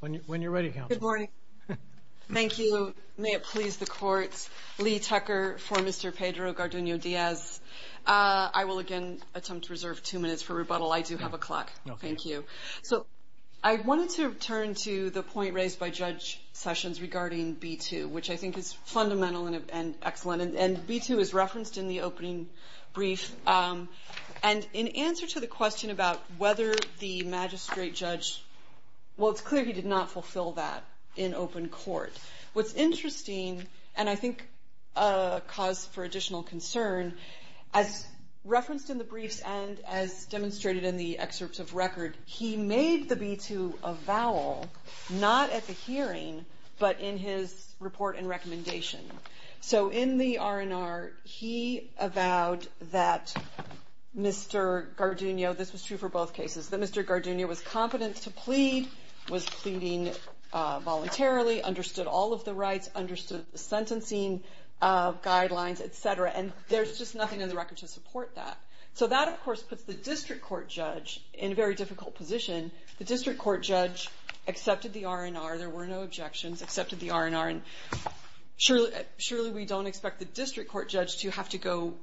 When you're ready, Counsel. Good morning. Thank you. May it please the Court, Lee Tucker for Mr. Pedro Garduno-Diaz. I will again attempt to reserve two minutes for rebuttal. I do have a clock. Thank you. So I wanted to turn to the point raised by Judge Sessions regarding B-2, which I think is fundamental and excellent. And B-2 is referenced in the opening brief. And in answer to the question about whether the magistrate judge, well, it's clear he did not fulfill that in open court. What's interesting, and I think a cause for additional concern, as referenced in the briefs and as demonstrated in the excerpts of record, he made the B-2 a vowel not at the hearing but in his report and recommendation. So in the R&R, he avowed that Mr. Garduno, this was true for both cases, that Mr. Garduno was competent to plead, was pleading voluntarily, understood all of the rights, understood the sentencing guidelines, et cetera. And there's just nothing in the record to support that. So that, of course, puts the district court judge in a very difficult position. The district court judge accepted the R&R. There were no objections, accepted the R&R. And surely we don't expect the district court judge to have to go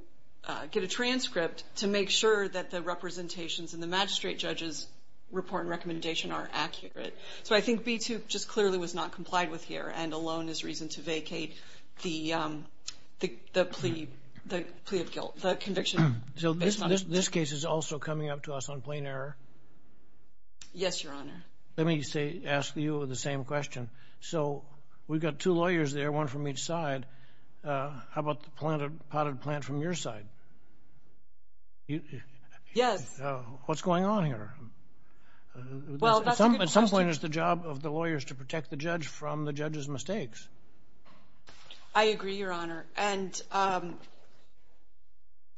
get a transcript to make sure that the representations in the magistrate judge's report and recommendation are accurate. So I think B-2 just clearly was not complied with here and alone is reason to vacate the plea of guilt, the conviction. So this case is also coming up to us on plain error? Yes, Your Honor. Let me ask you the same question. So we've got two lawyers there, one from each side. How about the potted plant from your side? Yes. What's going on here? Well, that's a good question. At some point, it's the job of the lawyers to protect the judge from the judge's mistakes. I agree, Your Honor. And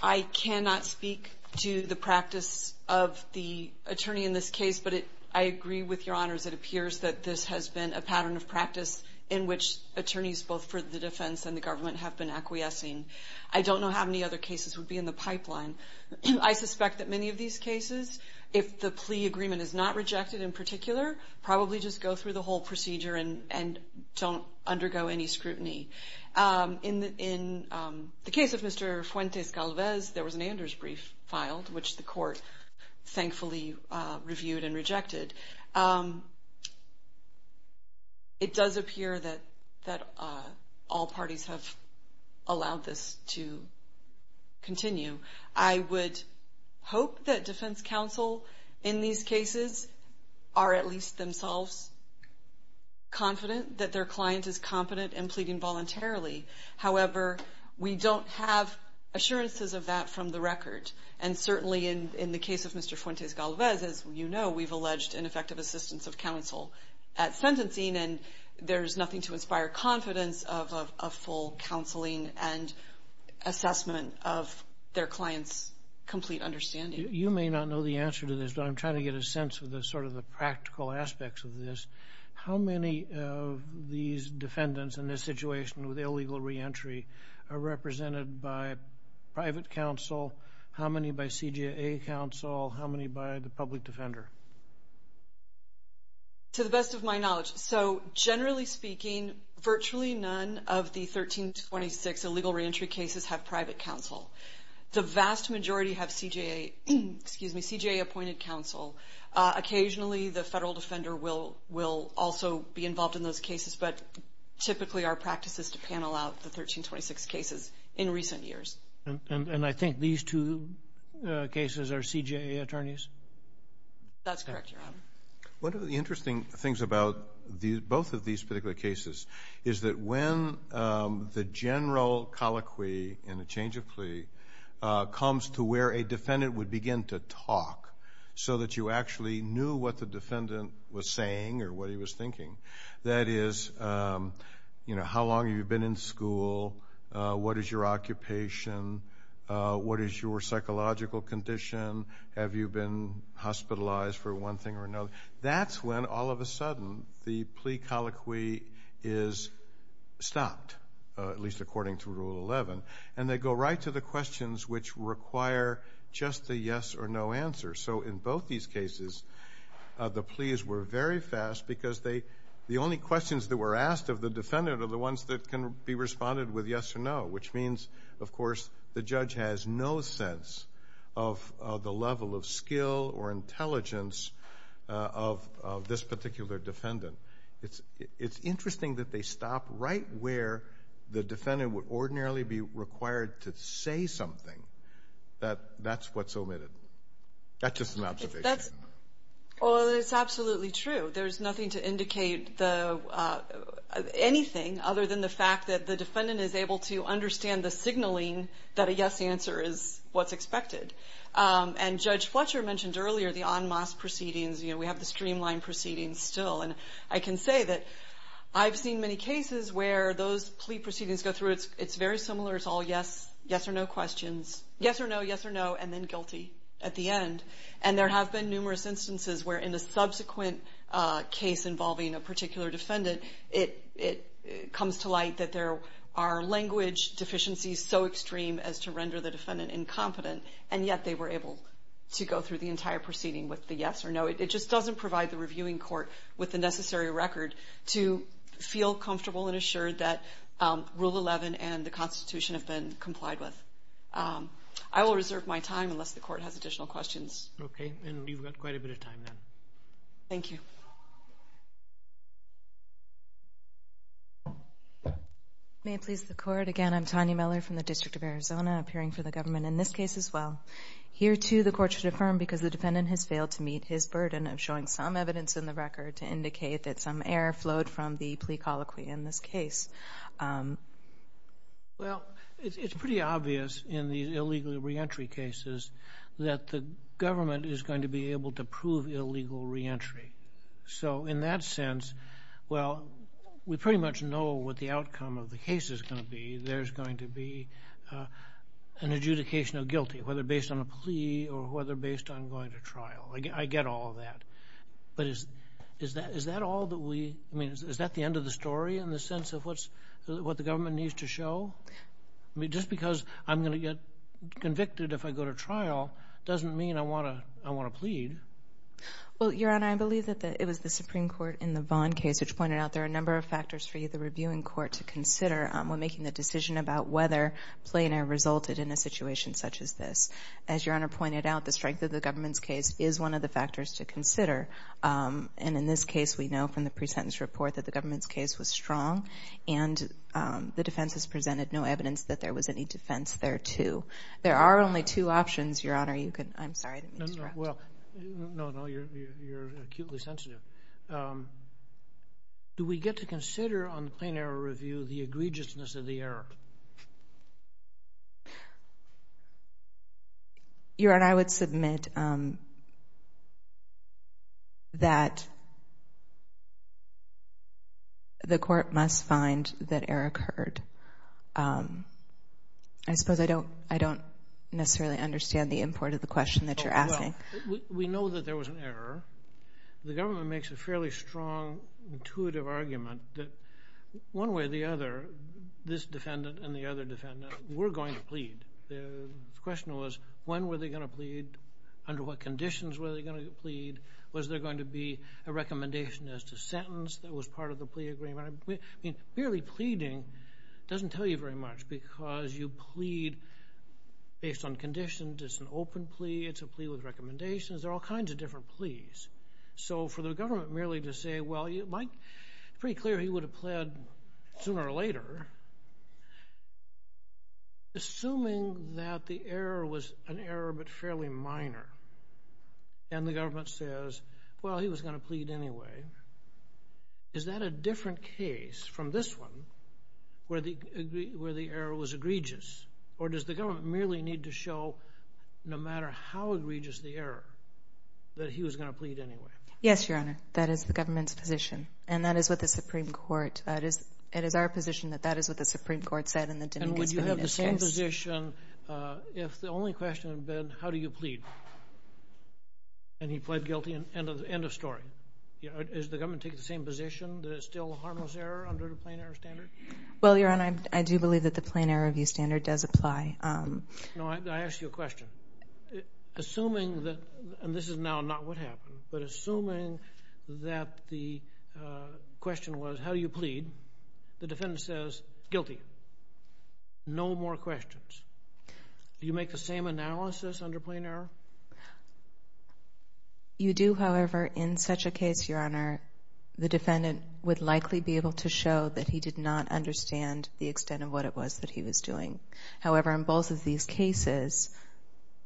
I cannot speak to the practice of the attorney in this case, but I agree with Your Honors. It appears that this has been a pattern of practice in which attorneys both for the defense and the government have been acquiescing. I don't know how many other cases would be in the pipeline. I suspect that many of these cases, if the plea agreement is not rejected in particular, probably just go through the whole procedure and don't undergo any scrutiny. In the case of Mr. Fuentes Calvez, there was an Anders brief filed, which the court thankfully reviewed and rejected. It does appear that all parties have allowed this to continue. I would hope that defense counsel in these cases are at least themselves confident that their client is competent in pleading voluntarily. However, we don't have assurances of that from the record. And certainly in the case of Mr. Fuentes Calvez, as you know, we've alleged ineffective assistance of counsel at sentencing, and there's nothing to inspire confidence of full counseling and assessment of their client's complete understanding. You may not know the answer to this, but I'm trying to get a sense of sort of the practical aspects of this. How many of these defendants in this situation with illegal reentry are represented by private counsel? How many by CJA counsel? How many by the public defender? To the best of my knowledge, so generally speaking, virtually none of the 13 to 26 illegal reentry cases have private counsel. The vast majority have CJA appointed counsel. Occasionally the federal defender will also be involved in those cases, but typically our practice is to panel out the 13 to 26 cases in recent years. And I think these two cases are CJA attorneys? That's correct, Your Honor. One of the interesting things about both of these particular cases is that when the general colloquy in a change of plea comes to where a defendant would begin to talk so that you actually knew what the defendant was saying or what he was thinking, that is, you know, how long have you been in school? What is your occupation? What is your psychological condition? Have you been hospitalized for one thing or another? That's when all of a sudden the plea colloquy is stopped, at least according to Rule 11, and they go right to the questions which require just a yes or no answer. So in both these cases the pleas were very fast because the only questions that were asked of the defendant are the ones that can be responded with yes or no, which means, of course, the judge has no sense of the level of skill or intelligence of this particular defendant. It's interesting that they stop right where the defendant would ordinarily be required to say something. That's what's omitted. That's just an observation. Well, it's absolutely true. There's nothing to indicate anything other than the fact that the defendant is able to understand the signaling that a yes answer is what's expected. And Judge Fletcher mentioned earlier the en masse proceedings. You know, we have the streamlined proceedings still, and I can say that I've seen many cases where those plea proceedings go through. It's very similar. It's all yes, yes or no questions, yes or no, yes or no, and then guilty at the end. And there have been numerous instances where in a subsequent case involving a particular defendant, it comes to light that there are language deficiencies so extreme as to render the defendant incompetent, and yet they were able to go through the entire proceeding with the yes or no. It just doesn't provide the reviewing court with the necessary record to feel comfortable and assured that Rule 11 and the Constitution have been complied with. I will reserve my time unless the court has additional questions. Okay. And you've got quite a bit of time then. Thank you. May it please the Court, again, I'm Tanya Miller from the District of Arizona, appearing for the government in this case as well. Here, too, the Court should affirm because the defendant has failed to meet his burden of showing some evidence in the record to indicate that some error flowed from the plea colloquy in this case. Well, it's pretty obvious in the illegal reentry cases that the government is going to be able to prove illegal reentry. So in that sense, well, we pretty much know what the outcome of the case is going to be. There's going to be an adjudication of guilty, whether based on a plea or whether based on going to trial. I get all of that. But is that all that we – I mean, is that the end of the story in the sense of what the government needs to show? I mean, just because I'm going to get convicted if I go to trial doesn't mean I want to plead. Well, Your Honor, I believe that it was the Supreme Court in the Vaughn case which pointed out that there are a number of factors for you, the reviewing court, to consider when making the decision about whether plea in error resulted in a situation such as this. As Your Honor pointed out, the strength of the government's case is one of the factors to consider. And in this case, we know from the pre-sentence report that the government's case was strong and the defense has presented no evidence that there was any defense there, too. There are only two options, Your Honor. I'm sorry to interrupt. Well, no, no, you're acutely sensitive. Do we get to consider on the plea in error review the egregiousness of the error? Your Honor, I would submit that the court must find that error occurred. I suppose I don't necessarily understand the import of the question that you're asking. Well, we know that there was an error. The government makes a fairly strong, intuitive argument that one way or the other, this defendant and the other defendant were going to plead. The question was when were they going to plead, under what conditions were they going to plead, was there going to be a recommendation as to sentence that was part of the plea agreement. I mean, merely pleading doesn't tell you very much because you plead based on conditions. It's an open plea. It's a plea with recommendations. There are all kinds of different pleas. So for the government merely to say, well, it's pretty clear he would have pled sooner or later, assuming that the error was an error but fairly minor, and the government says, well, he was going to plead anyway, is that a different case from this one where the error was egregious? Or does the government merely need to show, no matter how egregious the error, that he was going to plead anyway? Yes, Your Honor. That is the government's position. And that is what the Supreme Court, it is our position that that is what the Supreme Court said and that didn't get submitted to us. And would you have the same position if the only question had been how do you plead? And he pled guilty. End of story. Is the government taking the same position that it's still a harmless error under the plain error standard? Well, Your Honor, I do believe that the plain error review standard does apply. No, I ask you a question. Assuming that, and this is now not what happened, but assuming that the question was how do you plead, the defendant says, guilty. No more questions. Do you make the same analysis under plain error? You do, however, in such a case, Your Honor, the defendant would likely be able to show that he did not understand the extent of what it was that he was doing. However, in both of these cases,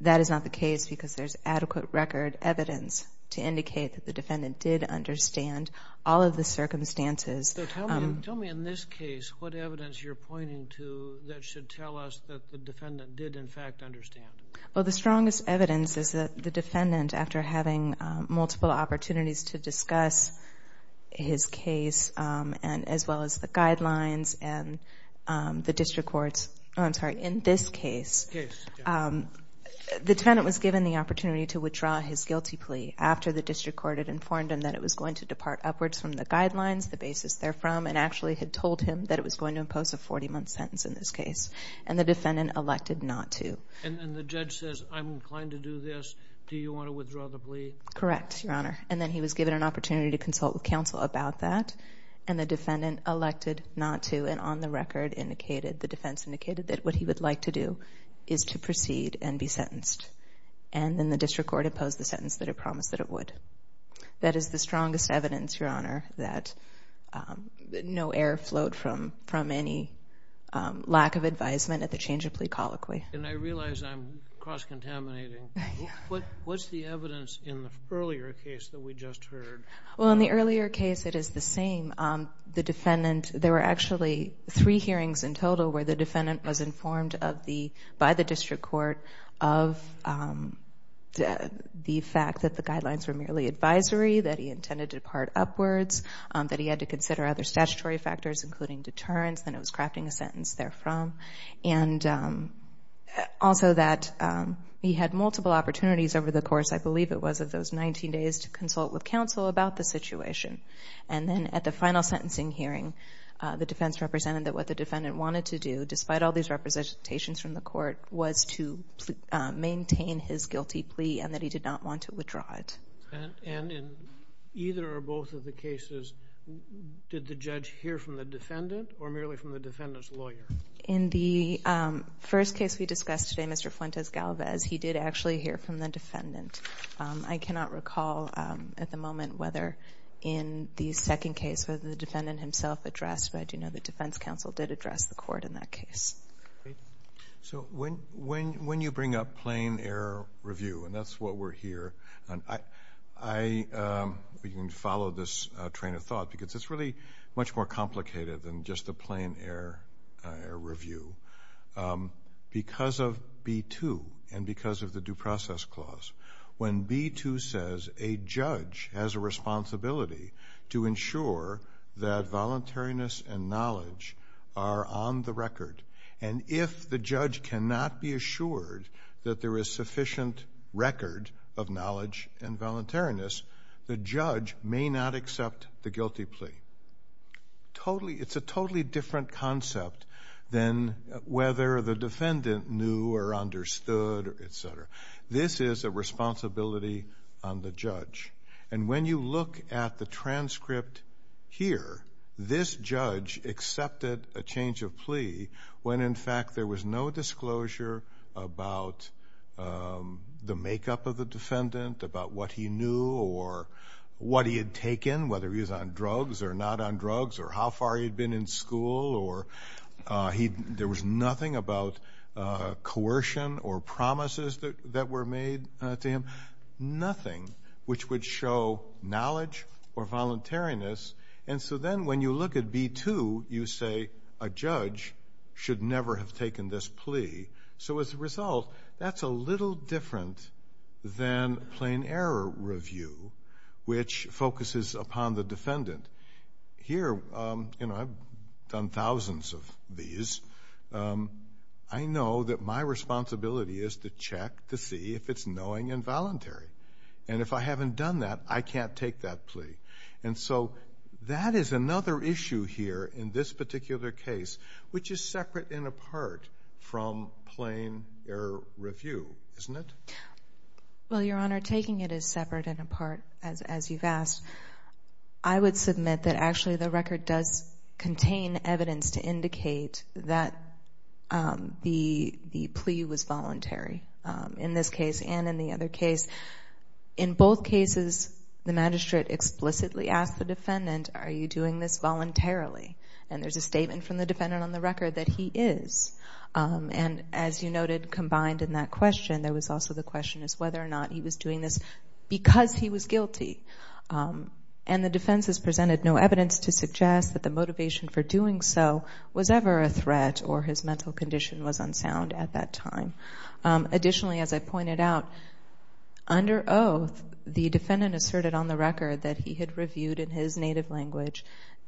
that is not the case because there's adequate record evidence to indicate that the defendant did understand all of the circumstances. So tell me in this case what evidence you're pointing to that should tell us that the defendant did, in fact, understand. Well, the strongest evidence is that the defendant, after having multiple opportunities to discuss his case as well as the guidelines and the district courts, I'm sorry, in this case, the defendant was given the opportunity to withdraw his guilty plea after the district court had informed him that it was going to depart upwards from the guidelines, the basis therefrom, and actually had told him that it was going to impose a 40-month sentence in this case. And the defendant elected not to. And the judge says, I'm inclined to do this. Do you want to withdraw the plea? Correct, Your Honor. And then he was given an opportunity to consult with counsel about that, and the defendant elected not to. And on the record, the defense indicated that what he would like to do is to proceed and be sentenced. And then the district court imposed the sentence that it promised that it would. That is the strongest evidence, Your Honor, that no error flowed from any lack of advisement at the change of plea colloquy. And I realize I'm cross-contaminating. What's the evidence in the earlier case that we just heard? Well, in the earlier case, it is the same. The defendant, there were actually three hearings in total where the defendant was informed by the district court of the fact that the guidelines were merely advisory, that he intended to depart upwards, that he had to consider other statutory factors, including deterrence, and it was crafting a sentence therefrom, and also that he had multiple opportunities over the course, I believe it was, of those 19 days to consult with counsel about the situation. And then at the final sentencing hearing, the defense represented that what the defendant wanted to do, despite all these representations from the court, was to maintain his guilty plea and that he did not want to withdraw it. And in either or both of the cases, did the judge hear from the defendant or merely from the defendant's lawyer? In the first case we discussed today, Mr. Fuentes-Galvez, he did actually hear from the defendant. I cannot recall at the moment whether in the second case whether the defendant himself addressed, but I do know the defense counsel did address the court in that case. So when you bring up plain-error review, and that's what we're here on, you can follow this train of thought because it's really much more complicated than just a plain-error review. Because of B-2 and because of the Due Process Clause, when B-2 says a judge has a responsibility to ensure that voluntariness and knowledge are on the record, and if the judge cannot be assured that there is sufficient record of knowledge and voluntariness, the judge may not accept the guilty plea. It's a totally different concept than whether the defendant knew or understood, et cetera. This is a responsibility on the judge. And when you look at the transcript here, this judge accepted a change of plea when, in fact, there was no disclosure about the makeup of the defendant, about what he knew or what he had taken, whether he was on drugs or not on drugs, or how far he had been in school. There was nothing about coercion or promises that were made to him. Nothing which would show knowledge or voluntariness. And so then when you look at B-2, you say a judge should never have taken this plea. So as a result, that's a little different than plain-error review, which focuses upon the defendant. Here, you know, I've done thousands of these. I know that my responsibility is to check to see if it's knowing and voluntary. And if I haven't done that, I can't take that plea. And so that is another issue here in this particular case, which is separate and apart from plain-error review, isn't it? Well, Your Honor, taking it as separate and apart, as you've asked, I would submit that actually the record does contain evidence to indicate that the plea was voluntary, in this case and in the other case. In both cases, the magistrate explicitly asked the defendant, are you doing this voluntarily? And there's a statement from the defendant on the record that he is. And as you noted, combined in that question, there was also the question as to whether or not he was doing this because he was guilty. And the defense has presented no evidence to suggest that the motivation for doing so was ever a threat or his mental condition was unsound at that time. Additionally, as I pointed out, under oath, the defendant asserted on the record that he had reviewed in his native language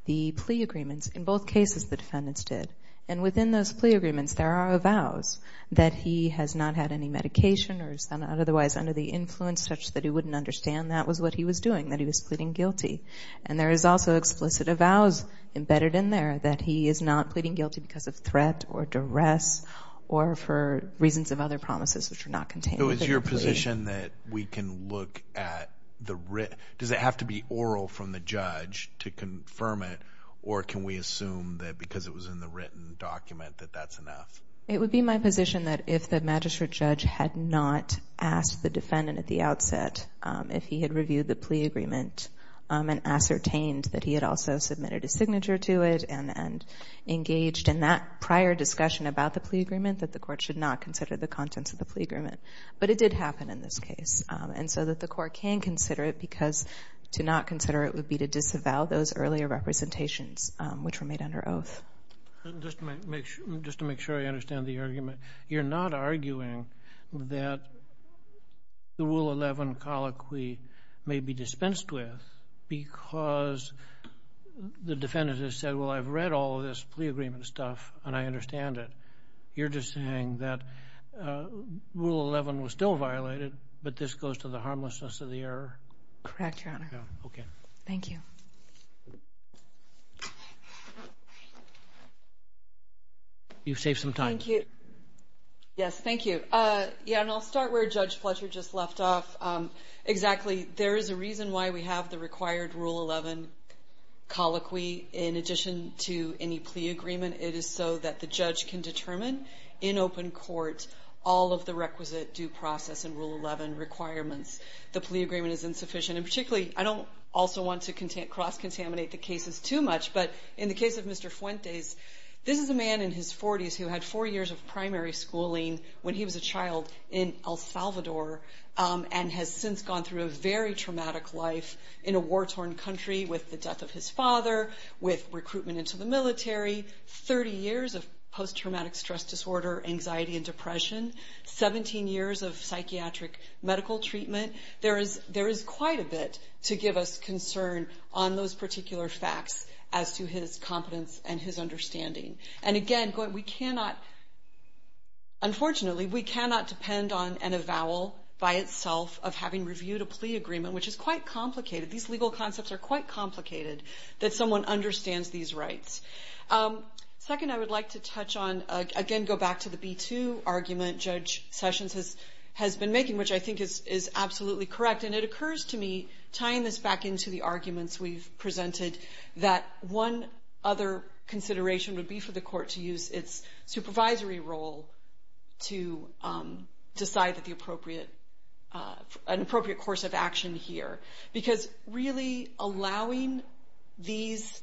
the plea agreements. In both cases, the defendants did. And within those plea agreements, there are avows that he has not had any medication or is otherwise under the influence such that he wouldn't understand that was what he was doing, that he was pleading guilty. And there is also explicit avows embedded in there that he is not pleading guilty because of threat or duress or for reasons of other promises which are not contained in the plea. So is your position that we can look at the writ? Does it have to be oral from the judge to confirm it? Or can we assume that because it was in the written document that that's enough? It would be my position that if the magistrate judge had not asked the defendant at the outset if he had reviewed the plea agreement and ascertained that he had also submitted a signature to it and engaged in that prior discussion about the plea agreement, that the court should not consider the contents of the plea agreement. But it did happen in this case. And so that the court can consider it because to not consider it would be to disavow those earlier representations which were made under oath. Just to make sure I understand the argument, you're not arguing that the Rule 11 colloquy may be dispensed with because the defendant has said, well, I've read all of this plea agreement stuff and I understand it. You're just saying that Rule 11 was still violated, but this goes to the harmlessness of the error? Correct, Your Honor. Okay. Thank you. You've saved some time. Thank you. Yes, thank you. Yeah, and I'll start where Judge Fletcher just left off. Exactly. There is a reason why we have the required Rule 11 colloquy in addition to any plea agreement. It is so that the judge can determine in open court all of the requisite due process and Rule 11 requirements. The plea agreement is insufficient. And particularly, I don't also want to cross-contaminate the cases too much, but in the case of Mr. Fuentes, this is a man in his 40s who had four years of primary schooling when he was a child in El Salvador and has since gone through a very traumatic life in a war-torn country with the death of his father, with recruitment into the military, 30 years of post-traumatic stress disorder, anxiety, and depression, 17 years of psychiatric medical treatment. There is quite a bit to give us concern on those particular facts as to his competence and his understanding. And again, unfortunately, we cannot depend on a vowel by itself of having reviewed a plea agreement, which is quite complicated. These legal concepts are quite complicated that someone understands these rights. Second, I would like to touch on, again, go back to the B-2 argument Judge Sessions has been making, which I think is absolutely correct. And it occurs to me, tying this back into the arguments we've presented, that one other consideration would be for the court to use its supervisory role to decide an appropriate course of action here. Because really allowing these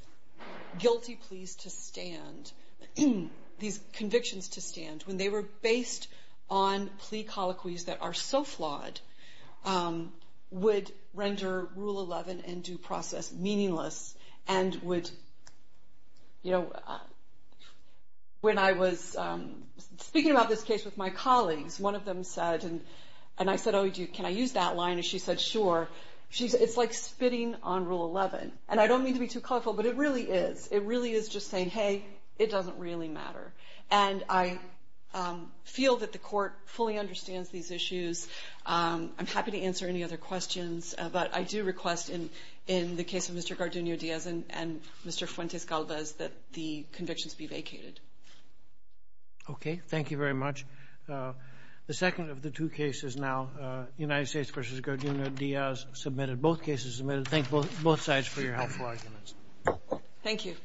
guilty pleas to stand, these convictions to stand, when they were based on plea colloquies that are so flawed, would render Rule 11 and due process meaningless and would, you know, when I was speaking about this case with my colleagues, one of them said, and I said, oh, can I use that line? And she said, sure. It's like spitting on Rule 11. And I don't mean to be too colorful, but it really is. It really is just saying, hey, it doesn't really matter. And I feel that the court fully understands these issues. I'm happy to answer any other questions, but I do request in the case of Mr. Gardino-Diaz and Mr. Fuentes-Galvez that the convictions be vacated. Okay. Thank you very much. The second of the two cases now, United States v. Gardino-Diaz, submitted. Both cases submitted. Thank both sides for your helpful arguments. Thank you.